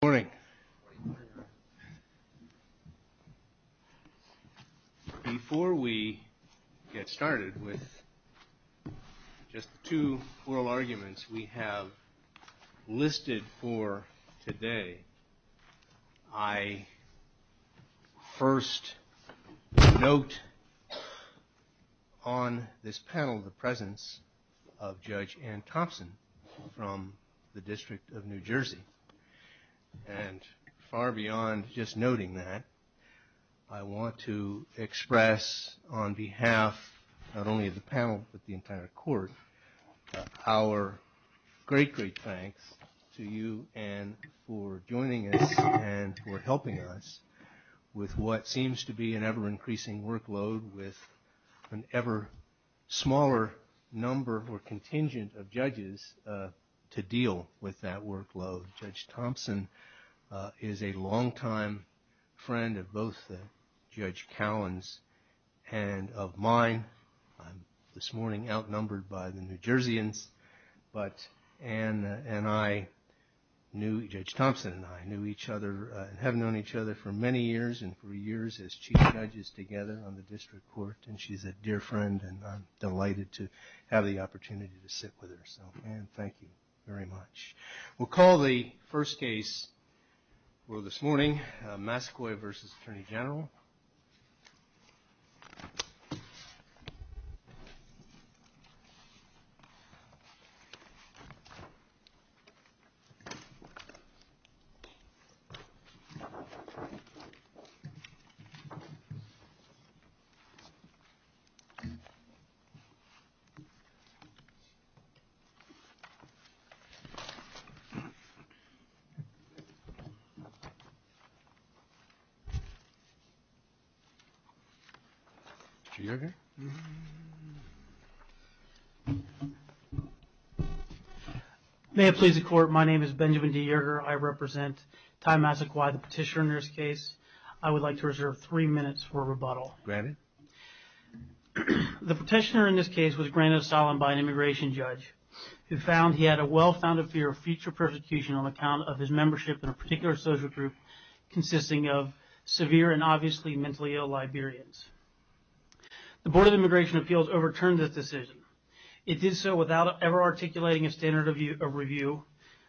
Good morning. Before we get started with just two oral arguments we have listed for today, I first note on this panel the presence of Judge Ann Thompson from the District of New Jersey. And far beyond just noting that, I want to express on behalf not only of the panel but the entire court our great, great thanks to you Ann for joining us and for helping us with what seems to be an ever increasing workload with an ever smaller number or contingent of judges to deal with that workload. Judge Thompson is a longtime friend of both Judge Cowan's and of mine. I'm this morning outnumbered by the New Jerseyans, but Ann and I knew, Judge Thompson and I knew each other and have known each other for many years and for years as Chief Judges together on the District Court and she's a dear friend and I'm delighted to have the opportunity to sit with her. So Ann, thank you very much. We'll call the first case for this morning, Massaquoi v. Attorney General. Benjamin D. Yerger May it please the Court, my name is Benjamin D. Yerger. I represent Ty Massaquoi, the petitioner in this case. I would like to reserve three minutes for rebuttal. The petitioner in this case was granted asylum by an immigration judge who found he had a well-founded fear of future persecution on account of his membership in a particular social group consisting of severe and obviously mentally ill Liberians. The Board of Immigration Appeals overturned this decision. It did so without ever articulating a standard of review,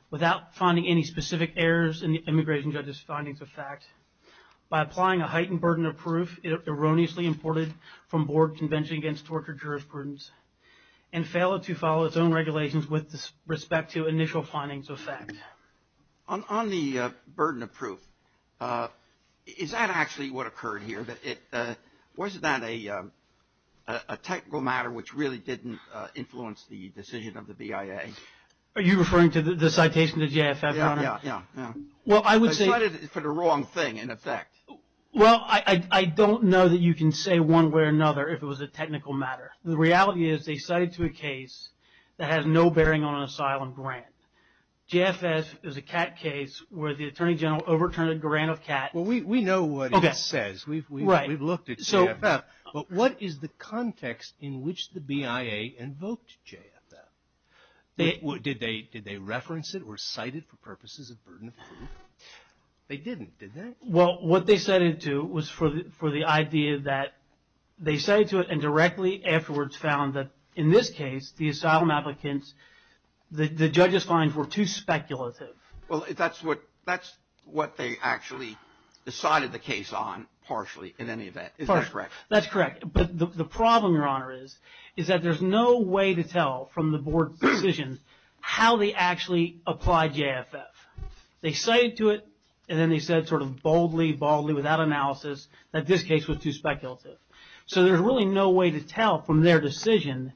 without finding any specific errors in the immigration judge's findings of fact. By applying a heightened burden of proof, it erroneously imported from Board Convention Against Tortured Jurisprudence and failed to follow its own regulations with respect to initial findings of fact. On the burden of proof, is that actually what occurred here? Was that a technical matter which really didn't influence the decision of the BIA? Are you referring to the citation to JFF, Your Honor? Yeah, yeah. Well, I would say... I cited it for the wrong thing, in effect. Well, I don't know that you can say one way or another if it was a technical matter. The reality is they cited to a case that has no bearing on an asylum grant. JFF is a CAT case where the Attorney General overturned a grant of CAT. Well, we know what it says. Okay. We've looked at JFF. Right. But what is the context in which the BIA invoked JFF? Did they reference it or cite it for purposes of burden of proof? They didn't, did they? Well, what they cited to was for the idea that they cited to it and directly afterwards found that in this case, the asylum applicants, the judge's findings were too speculative. Well, that's what they actually decided the case on, partially, in any event. Is that correct? That's correct. But the problem, Your Honor, is that there's no way to tell from the board's decision how they actually applied JFF. They cited to it and then they said sort of boldly, baldly, without analysis, that this case was too speculative. So there's really no way to tell from their decision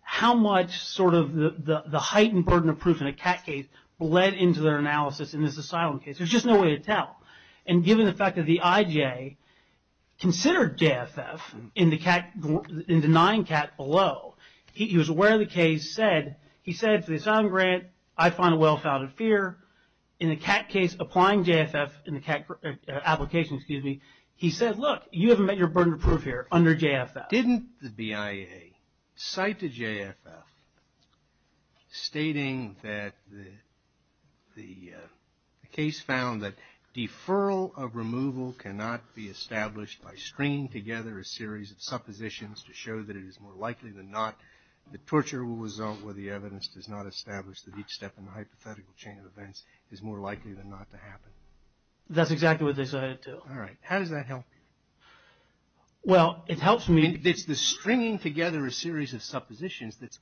how much sort of the heightened burden of proof in a CAT case led into their analysis in this asylum case. And given the fact that the IJ considered JFF in denying CAT below, he was aware the case said, he said, for the asylum grant, I find a well-founded fear. In the CAT case, applying JFF in the CAT application, excuse me, he said, look, you haven't met your burden of proof here under JFF. Didn't the BIA cite to JFF stating that the case found that deferral of removal cannot be established by stringing together a series of suppositions to show that it is more likely than not that torture will result where the evidence does not establish that each step in the hypothetical chain of events is more likely than not to happen? That's exactly what they said it to. All right. How does that help you? Well, it helps me. It's the stringing together a series of suppositions that's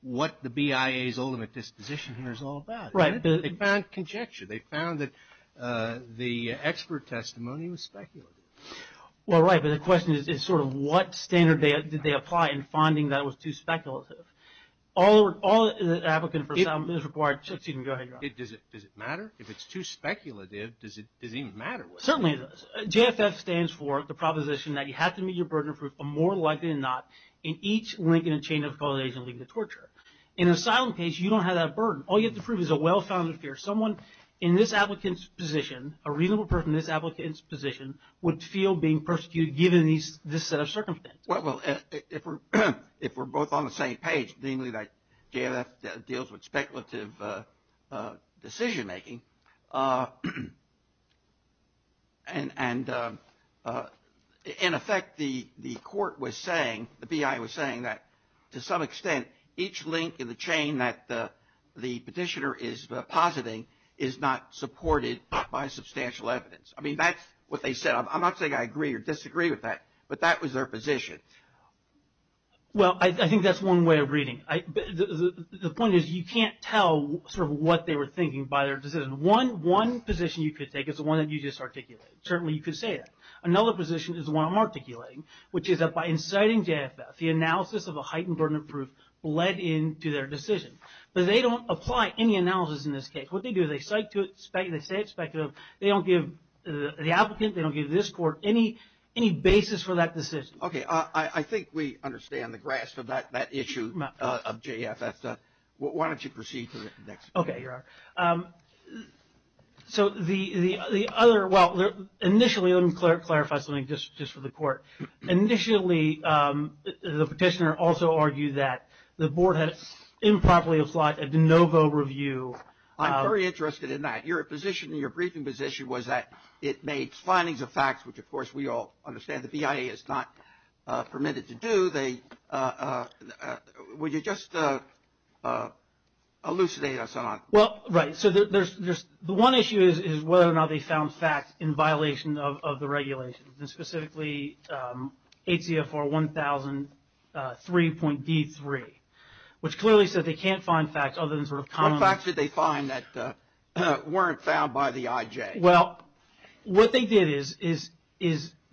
what the BIA's ultimate disposition here is all about. Right. They found conjecture. They found that the expert testimony was speculative. Well, right. But the question is sort of what standard did they apply in finding that it was too speculative? All the applicants for asylum is required. Excuse me. Go ahead. Does it matter? If it's too speculative, does it even matter? Certainly it does. JFF stands for the proposition that you have to meet your burden of proof more likely than not in each link in a chain of causation leading to torture. In an asylum case, you don't have that burden. All you have to prove is a well-founded fear. Someone in this applicant's position, a reasonable person in this applicant's position, would feel being persecuted given this set of circumstances. Well, if we're both on the same page, namely that JFF deals with speculative decision making, and in effect the court was saying, the BIA was saying that to some extent each link in the chain that the petitioner is positing is not supported by substantial evidence. I mean, that's what they said. I'm not saying I agree or disagree with that, but that was their position. Well, I think that's one way of reading it. The point is you can't tell sort of what they were thinking by their decision. One position you could take is the one that you just articulated. Certainly you could say that. Another position is the one I'm articulating, which is that by inciting JFF, the analysis of a heightened burden of proof led into their decision. But they don't apply any analysis in this case. What they do is they cite to it, they say it's speculative. They don't give the applicant, they don't give this court any basis for that decision. Okay. I think we understand the grasp of that issue of JFF. Why don't you proceed to the next? Okay. You're on. So the other, well, initially, let me clarify something just for the court. Initially, the petitioner also argued that the board had improperly applied a de novo review. I'm very interested in that. Your position in your briefing position was that it made findings of facts, which, of course, we all understand the BIA is not permitted to do. Would you just elucidate us on that? Well, right. So the one issue is whether or not they found facts in violation of the regulations, and specifically HCFR 1003.D3, which clearly said they can't find facts other than sort of common. What facts did they find that weren't found by the IJ? Well, what they did is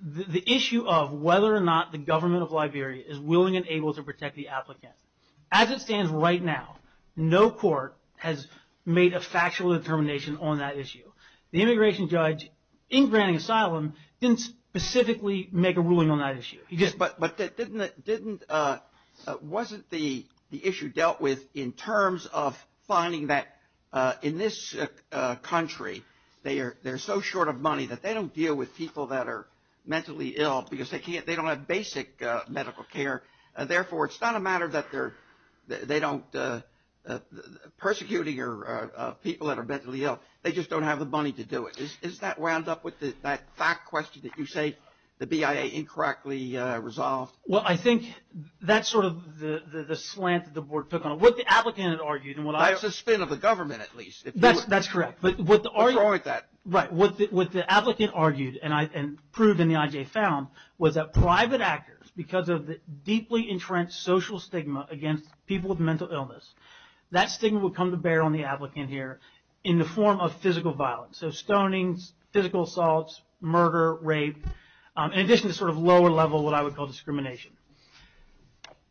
the issue of whether or not the government of Liberia is willing and able to protect the applicant. As it stands right now, no court has made a factual determination on that issue. The immigration judge in Granning Asylum didn't specifically make a ruling on that issue. But wasn't the issue dealt with in terms of finding that in this country, they're so short of money that they don't deal with people that are mentally ill because they don't have basic medical care. Therefore, it's not a matter that they're persecuting people that are mentally ill. They just don't have the money to do it. Is that wound up with that fact question that you say the BIA incorrectly resolved? Well, I think that's sort of the slant that the board took on it. What the applicant had argued and what I- That's a spin of the government, at least. That's correct. But what the- Destroyed that. Right. What the applicant argued and proved and the IJ found was that private actors, because of the deeply entrenched social stigma against people with mental illness, that stigma would come to bear on the applicant here in the form of physical violence. So stonings, physical assaults, murder, rape, in addition to sort of lower level, what I would call discrimination.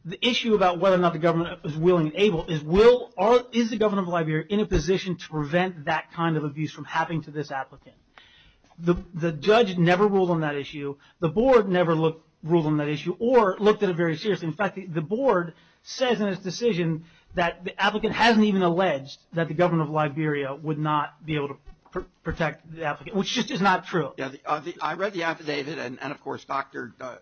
The issue about whether or not the government is willing and able is, is the government of Liberia in a position to prevent that kind of abuse from happening to this applicant? The judge never ruled on that issue. The board never ruled on that issue or looked at it very seriously. In fact, the board says in its decision that the applicant hasn't even alleged that the government of Liberia would not be able to protect the applicant, which just is not true. I read the affidavit and, of course, Dr. Doe-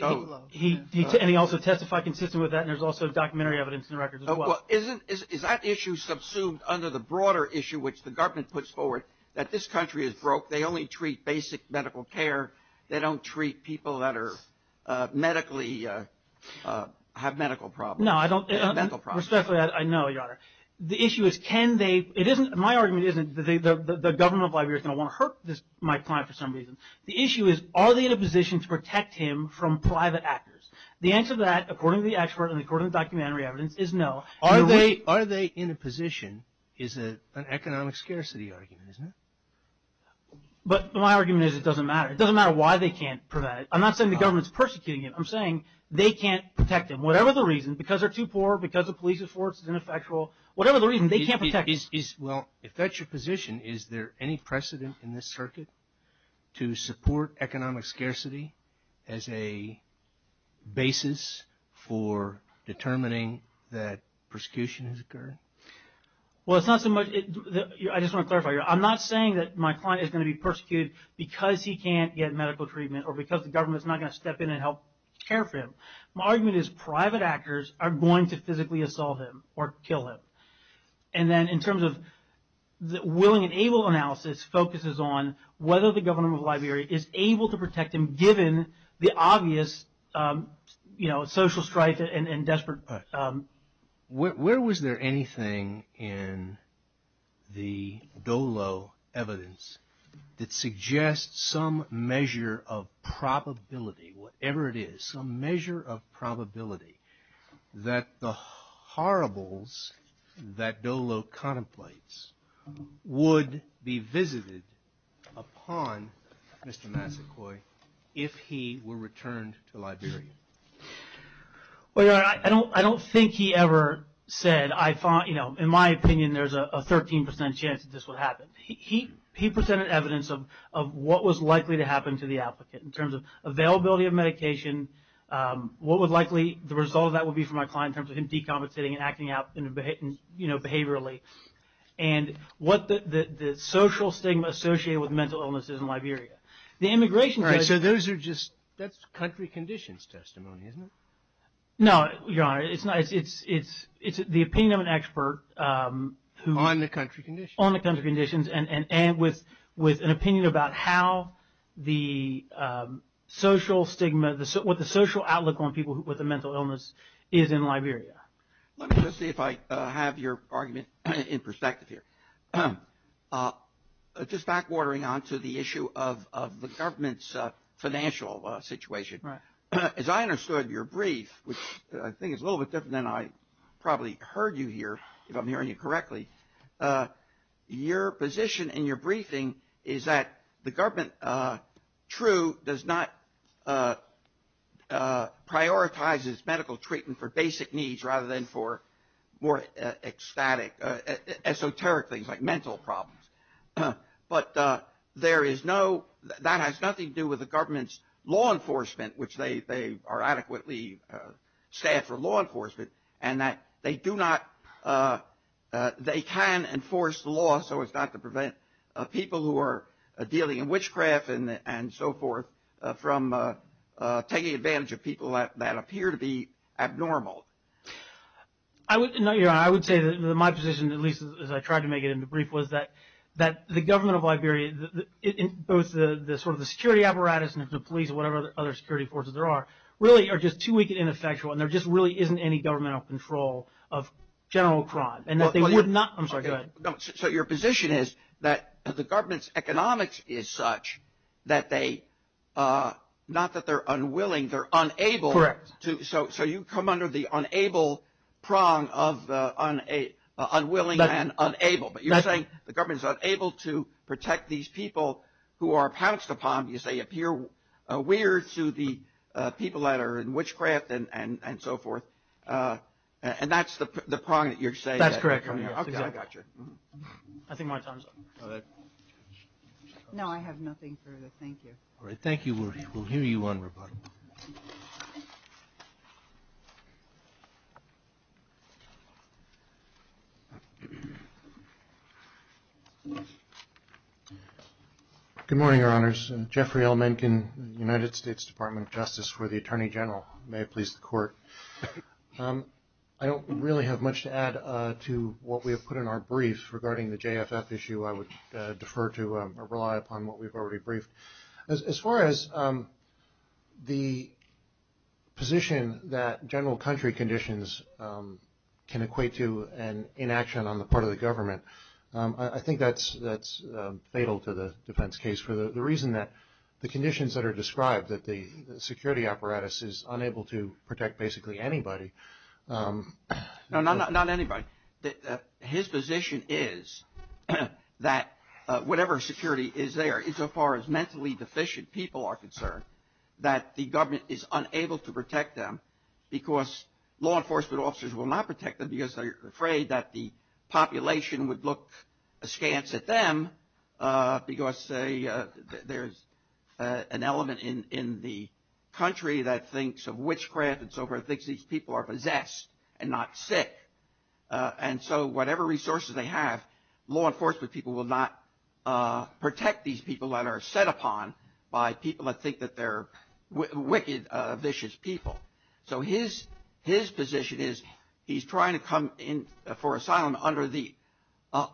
And he also testified consistent with that and there's also documentary evidence in the records as well. Is that issue subsumed under the broader issue which the government puts forward, that this country is broke, they only treat basic medical care, they don't treat people that are medically, have medical problems? No, I don't- Mental problems. Respectfully, I know, Your Honor. The issue is can they- my argument isn't the government of Liberia is going to want to hurt my client for some reason. The issue is are they in a position to protect him from private actors? The answer to that, according to the expert and according to the documentary evidence, is no. Are they in a position is an economic scarcity argument, isn't it? But my argument is it doesn't matter. It doesn't matter why they can't prevent it. I'm not saying the government is persecuting him. I'm saying they can't protect him. Whatever the reason, because they're too poor, because the police force is ineffectual, whatever the reason, they can't protect him. Well, if that's your position, is there any precedent in this circuit to support economic scarcity as a basis for determining that persecution has occurred? Well, it's not so much- I just want to clarify, Your Honor. I'm not saying that my client is going to be persecuted because he can't get medical treatment or because the government is not going to step in and help care for him. My argument is private actors are going to physically assault him or kill him. And then in terms of the willing and able analysis focuses on whether the government of Liberia is able to protect him, given the obvious social strife and desperate- Where was there anything in the Dolo evidence that suggests some measure of probability, whatever it is, some measure of probability that the horribles that Dolo contemplates would be visited upon Mr. Masakoi if he were returned to Liberia? Well, Your Honor, I don't think he ever said, you know, in my opinion there's a 13% chance that this would happen. He presented evidence of what was likely to happen to the applicant in terms of availability of medication, what would likely- the result of that would be for my client in terms of him decompensating and acting out, you know, behaviorally, and what the social stigma associated with mental illness is in Liberia. The immigration- All right, so those are just- that's country conditions testimony, isn't it? No, Your Honor, it's the opinion of an expert who- On the country conditions. On the country conditions and with an opinion about how the social stigma- what the social outlook on people with a mental illness is in Liberia. Let me just see if I have your argument in perspective here. Just backwatering on to the issue of the government's financial situation. As I understood your brief, which I think is a little bit different than I probably heard you hear, if I'm hearing you correctly, your position in your briefing is that the government, true, does not prioritize its medical treatment for basic needs rather than for more ecstatic, esoteric things like mental problems. But there is no- that has nothing to do with the government's law enforcement, which they are adequately staffed for law enforcement, and that they do not- they can enforce the law so as not to prevent people who are dealing in witchcraft and so forth from taking advantage of people that appear to be abnormal. No, Your Honor, I would say that my position, at least as I tried to make it in the brief, was that the government of Liberia, both the sort of the security apparatus and the police and whatever other security forces there are, really are just too weak and ineffectual, and there just really isn't any governmental control of general crime, and that they would not- I'm sorry, go ahead. So your position is that the government's economics is such that they- not that they're unwilling, they're unable- Correct. So you come under the unable prong of unwilling and unable. But you're saying the government's unable to protect these people who are pounced upon, you say, appear weird to the people that are in witchcraft and so forth, and that's the prong that you're saying. That's correct, Your Honor. Okay, I gotcha. I think my time's up. No, I have nothing further. Thank you. All right, thank you. We'll hear you on rebuttal. Good morning, Your Honors. Jeffrey L. Mencken, United States Department of Justice for the Attorney General. May it please the Court. I don't really have much to add to what we have put in our brief regarding the JFF issue. I would defer to or rely upon what we've already briefed. As far as the position that general country conditions can equate to an inaction on the part of the government, I think that's fatal to the defense case for the reason that the conditions that are described, that the security apparatus is unable to protect basically anybody. No, not anybody. His position is that whatever security is there, insofar as mentally deficient people are concerned, that the government is unable to protect them because law enforcement officers will not protect them because they're afraid that the population would look askance at them because there's an element in the country that thinks of witchcraft and thinks these people are possessed and not sick. And so whatever resources they have, law enforcement people will not protect these people that are set upon by people that think that they're wicked, vicious people. So his position is he's trying to come in for asylum under the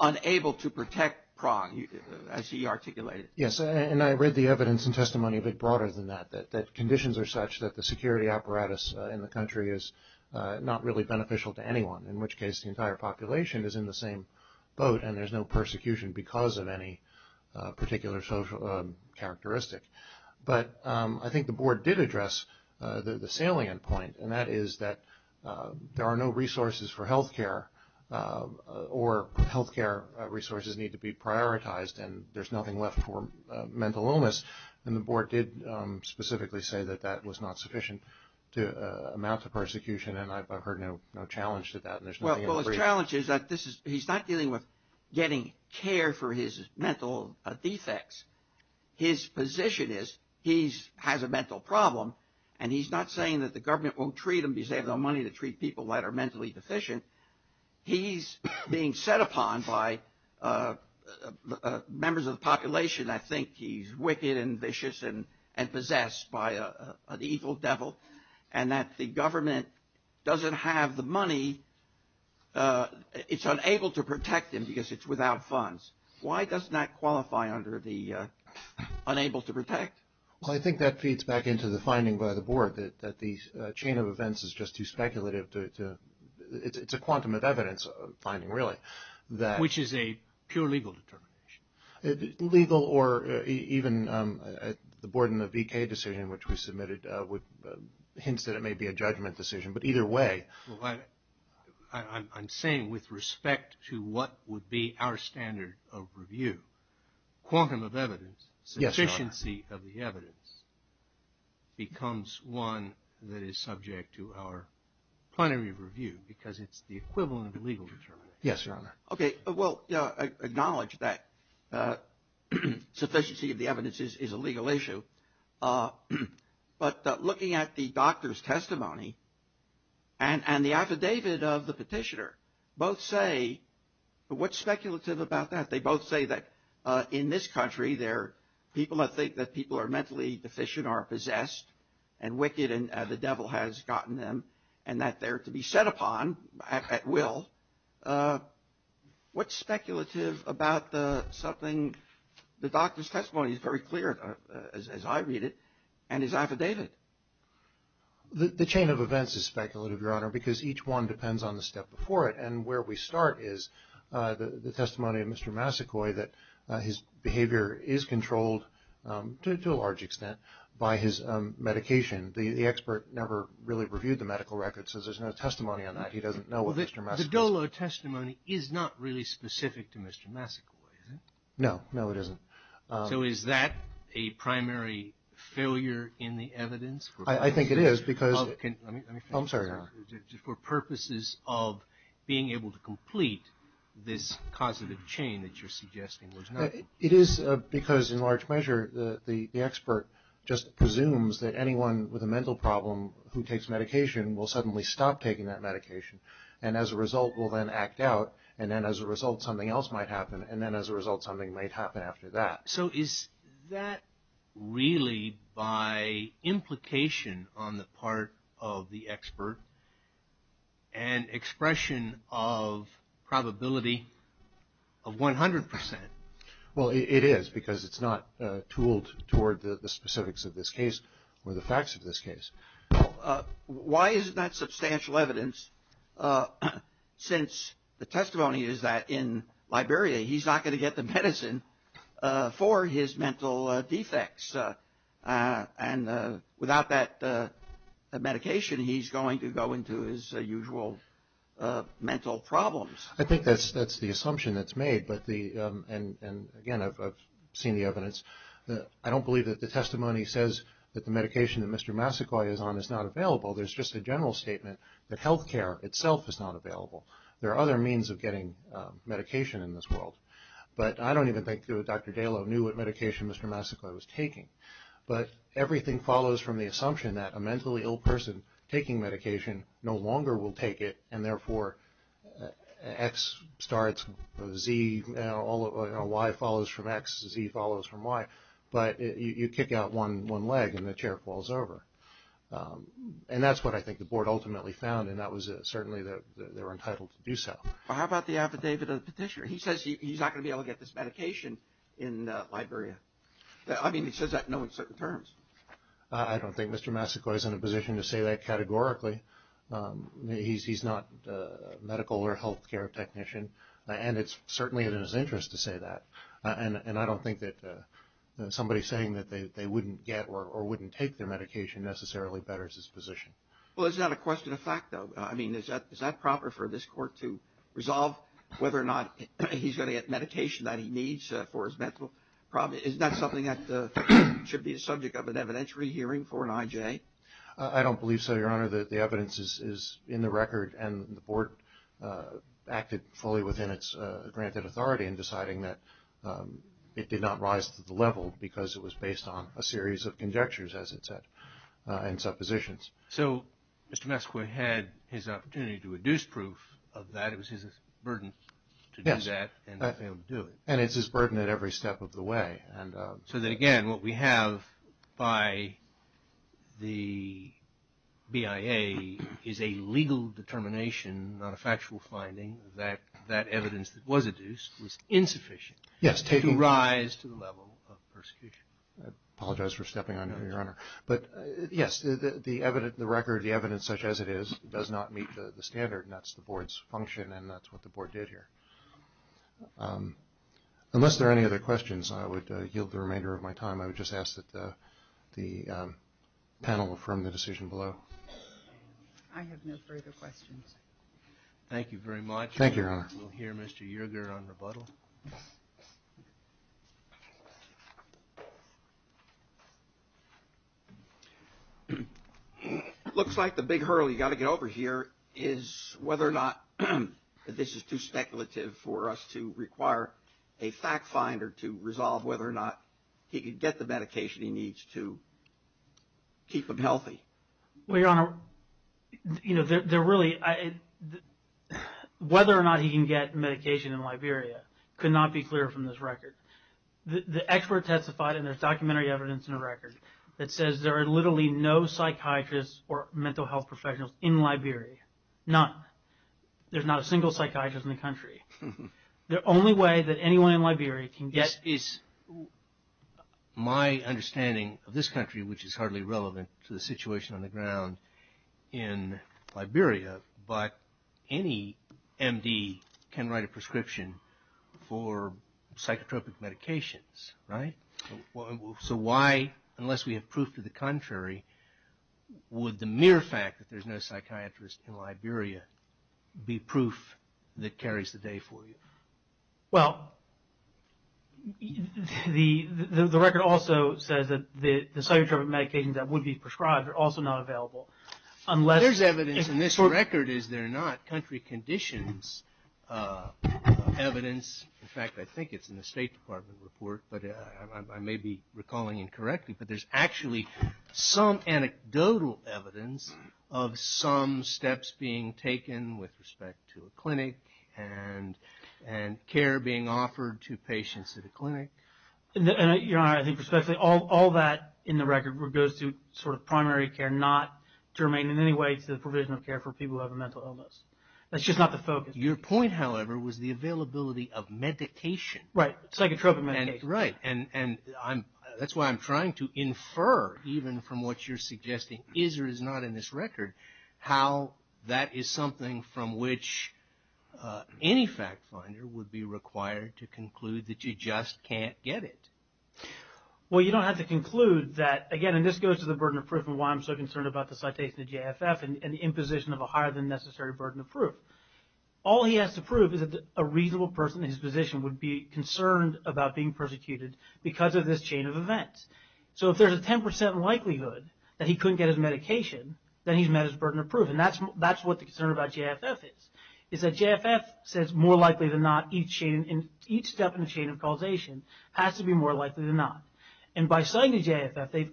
unable to protect prong, as he articulated. Yes. And I read the evidence and testimony a bit broader than that, that conditions are such that the security apparatus in the country is not really beneficial to anyone, in which case the entire population is in the same boat and there's no persecution because of any particular social characteristic. But I think the board did address the salient point, and that is that there are no resources for health care or health care resources need to be prioritized and there's nothing left for mental illness. And the board did specifically say that that was not sufficient to amount to persecution. And I've heard no challenge to that. Well, the challenge is that he's not dealing with getting care for his mental defects. His position is he has a mental problem, and he's not saying that the government won't treat him because they have no money to treat people that are mentally deficient. He's being set upon by members of the population that think he's wicked and vicious and possessed by an evil devil, and that the government doesn't have the money. It's unable to protect him because it's without funds. Why does that qualify under the unable to protect? Well, I think that feeds back into the finding by the board that the chain of events is just too speculative. It's a quantum of evidence finding, really. Which is a pure legal determination. Legal or even the board in the V.K. decision, which we submitted, hints that it may be a judgment decision. But either way. I'm saying with respect to what would be our standard of review, quantum of evidence, sufficiency of the evidence becomes one that is subject to our plenary review because it's the equivalent of a legal determination. Yes, Your Honor. Okay. Well, acknowledge that sufficiency of the evidence is a legal issue. But looking at the doctor's testimony and the affidavit of the petitioner, both say what's speculative about that? They both say that in this country there are people that think that people are mentally deficient or possessed and wicked and the devil has gotten them and that they're to be set upon at will. What's speculative about something? The doctor's testimony is very clear, as I read it, and his affidavit. The chain of events is speculative, Your Honor, because each one depends on the step before it. And where we start is the testimony of Mr. Masakoi that his behavior is controlled, to a large extent, by his medication. The expert never really reviewed the medical records, so there's no testimony on that. He doesn't know what Mr. Masakoi says. The Dolo testimony is not really specific to Mr. Masakoi, is it? No. No, it isn't. So is that a primary failure in the evidence? I think it is. I'm sorry, Your Honor. For purposes of being able to complete this causative chain that you're suggesting. It is because, in large measure, the expert just presumes that anyone with a mental problem who takes medication will suddenly stop taking that medication and as a result will then act out, and then as a result something else might happen, and then as a result something might happen after that. So is that really by implication on the part of the expert an expression of probability of 100 percent? Well, it is because it's not tooled toward the specifics of this case or the facts of this case. Why is that substantial evidence since the testimony is that in Liberia he's not going to get the medicine for his mental defects, and without that medication he's going to go into his usual mental problems? I think that's the assumption that's made, and, again, I've seen the evidence. I don't believe that the testimony says that the medication that Mr. Masakoi is on is not available. There's just a general statement that health care itself is not available. There are other means of getting medication in this world. But I don't even think Dr. Dalo knew what medication Mr. Masakoi was taking. But everything follows from the assumption that a mentally ill person taking medication no longer will take it, and therefore X starts, Z, Y follows from X, Z follows from Y. But you kick out one leg and the chair falls over. And that's what I think the board ultimately found, and that was certainly that they were entitled to do so. How about the affidavit of the petitioner? He says he's not going to be able to get this medication in Liberia. I mean, he says that knowing certain terms. I don't think Mr. Masakoi is in a position to say that categorically. He's not a medical or health care technician, and it's certainly in his interest to say that. And I don't think that somebody saying that they wouldn't get or wouldn't take their medication necessarily betters his position. Well, it's not a question of fact, though. I mean, is that proper for this court to resolve whether or not he's going to get medication that he needs for his mental problem? Is that something that should be the subject of an evidentiary hearing for an IJ? I don't believe so, Your Honor. The evidence is in the record, and the board acted fully within its granted authority in deciding that it did not rise to the level because it was based on a series of conjectures, as it said, and suppositions. So Mr. Masakoi had his opportunity to reduce proof of that. It was his burden to do that. Yes, and it's his burden at every step of the way. So, again, what we have by the BIA is a legal determination, not a factual finding, that that evidence that was adduced was insufficient to rise to the level of persecution. I apologize for stepping on you, Your Honor. But, yes, the record, the evidence such as it is, does not meet the standard, and that's the board's function, and that's what the board did here. Unless there are any other questions, I would yield the remainder of my time. I would just ask that the panel affirm the decision below. I have no further questions. Thank you very much. Thank you, Your Honor. We'll hear Mr. Yerger on rebuttal. It looks like the big hurdle you've got to get over here is whether or not this is too speculative for us to require a fact finder to resolve whether or not he can get the medication he needs to keep him healthy. Well, Your Honor, whether or not he can get medication in Liberia could not be clearer from this record. The expert testified, and there's documentary evidence in the record, that says there are literally no psychiatrists or mental health professionals in Liberia, none. There's not a single psychiatrist in the country. The only way that anyone in Liberia can get... It's my understanding of this country, which is hardly relevant to the situation on the ground in Liberia, but any MD can write a prescription for psychotropic medications, right? So why, unless we have proof to the contrary, would the mere fact that there's no psychiatrist in Liberia be proof that carries the day for you? Well, the record also says that the psychotropic medications that would be prescribed are also not available. There's evidence in this record, is there not? There's not country conditions evidence. In fact, I think it's in the State Department report, but I may be recalling incorrectly, but there's actually some anecdotal evidence of some steps being taken with respect to a clinic and care being offered to patients at a clinic. All that in the record goes to primary care, not to remain in any way to the provision of care for people who have a mental illness. That's just not the focus. Your point, however, was the availability of medication. Right, psychotropic medication. Right, and that's why I'm trying to infer, even from what you're suggesting is or is not in this record, how that is something from which any fact finder would be required to conclude that you just can't get it. Well, you don't have to conclude that, again, and this goes to the burden of proof and why I'm so concerned about the citation of JFF and the imposition of a higher than necessary burden of proof. All he has to prove is that a reasonable person in his position would be concerned about being persecuted because of this chain of events. So if there's a 10% likelihood that he couldn't get his medication, then he's met his burden of proof, and that's what the concern about JFF is, is that JFF says more likely than not, each step in the chain of causation has to be more likely than not. And by citing the JFF, they've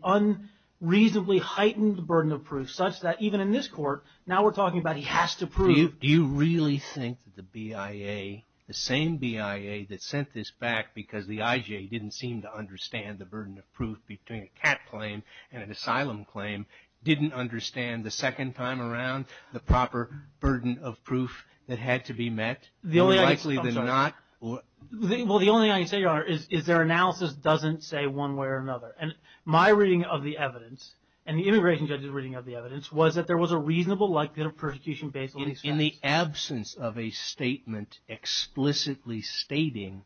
unreasonably heightened the burden of proof such that even in this court, now we're talking about he has to prove. Do you really think that the BIA, the same BIA that sent this back because the IJ didn't seem to understand the burden of proof between a cat claim and an asylum claim didn't understand the second time around the proper burden of proof that had to be met? More likely than not? Well, the only thing I can say, Your Honor, is their analysis doesn't say one way or another. And my reading of the evidence, and the immigration judge's reading of the evidence, was that there was a reasonable likelihood of persecution based on these facts. In the absence of a statement explicitly stating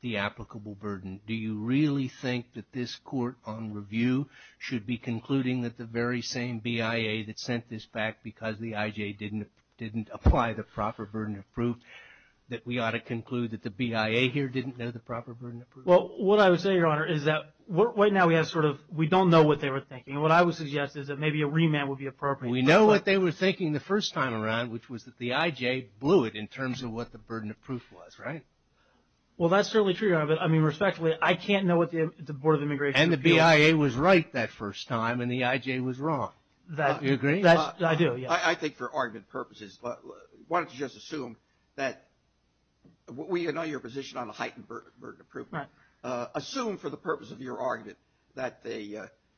the applicable burden, do you really think that this court on review should be concluding that the very same BIA that sent this back because the IJ didn't apply the proper burden of proof, that we ought to conclude that the BIA here didn't know the proper burden of proof? Well, what I would say, Your Honor, is that right now we don't know what they were thinking. And what I would suggest is that maybe a remand would be appropriate. We know what they were thinking the first time around, which was that the IJ blew it in terms of what the burden of proof was, right? Well, that's certainly true, Your Honor. But, I mean, respectfully, I can't know what the Board of Immigration would do. And the BIA was right that first time, and the IJ was wrong. Do you agree? I do, yes. I think for argument purposes, why don't you just assume that we know your position on the heightened burden of proof. Assume for the purpose of your argument that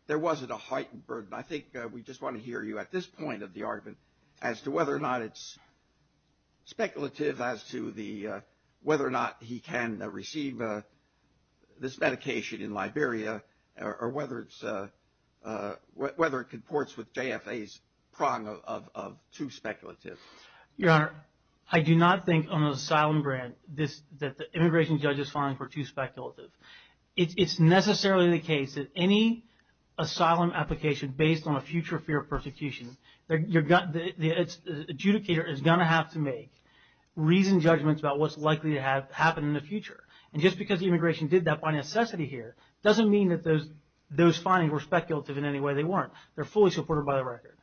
there wasn't a heightened burden. I think we just want to hear you at this point of the argument as to whether or not it's speculative as to whether or not he can receive this medication in Liberia or whether it comports with JFA's prong of too speculative. Your Honor, I do not think on an asylum grant that the immigration judge is filing for too speculative. It's necessarily the case that any asylum application based on a future fear of persecution, the adjudicator is going to have to make reasoned judgments about what's likely to happen in the future. And just because the immigration did that by necessity here doesn't mean that those findings were speculative in any way they weren't. They're fully supported by the record.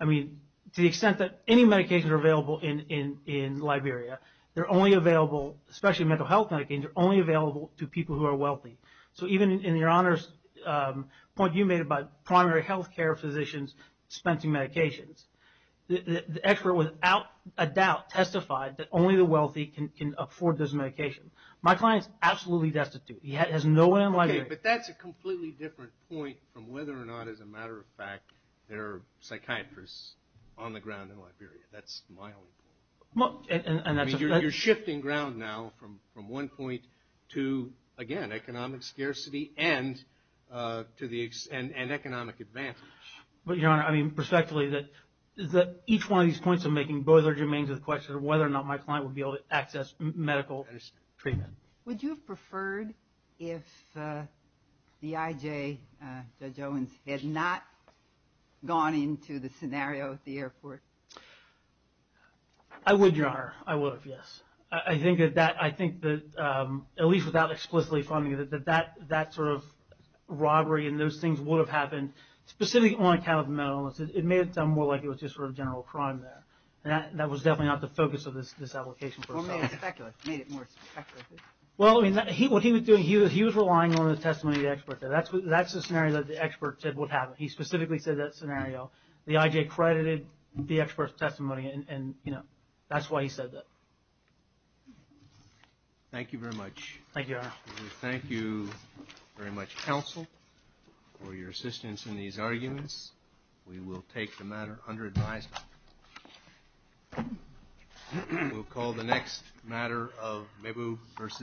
I mean, to the extent that any medications are available in Liberia, they're only available, especially mental health medications, are only available to people who are wealthy. So even in Your Honor's point you made about primary health care physicians dispensing medications, the expert without a doubt testified that only the wealthy can afford those medications. My client is absolutely destitute. He has no one in Liberia. Okay, but that's a completely different point from whether or not, as a matter of fact, there are psychiatrists on the ground in Liberia. That's my only point. You're shifting ground now from one point to, again, economic scarcity and economic advances. But, Your Honor, I mean, perspectively that each one of these points I'm making, both are germane to the question of whether or not my client would be able to access medical treatment. Would you have preferred if the IJ, Judge Owens, had not gone into the scenario at the airport? I would, Your Honor. I would have, yes. I think that, at least without explicitly finding it, that that sort of robbery and those things would have happened, specifically on account of mental illness. It made it sound more like it was just sort of general crime there. That was definitely not the focus of this application. Or made it more speculative. Well, I mean, what he was doing, he was relying on the testimony of the expert. That's the scenario that the expert said would happen. He specifically said that scenario. The IJ credited the expert's testimony. And, you know, that's why he said that. Thank you very much. Thank you, Your Honor. We thank you very much, counsel, for your assistance in these arguments. We will take the matter under advisement. We'll call the next matter of Mabu versus Mabu.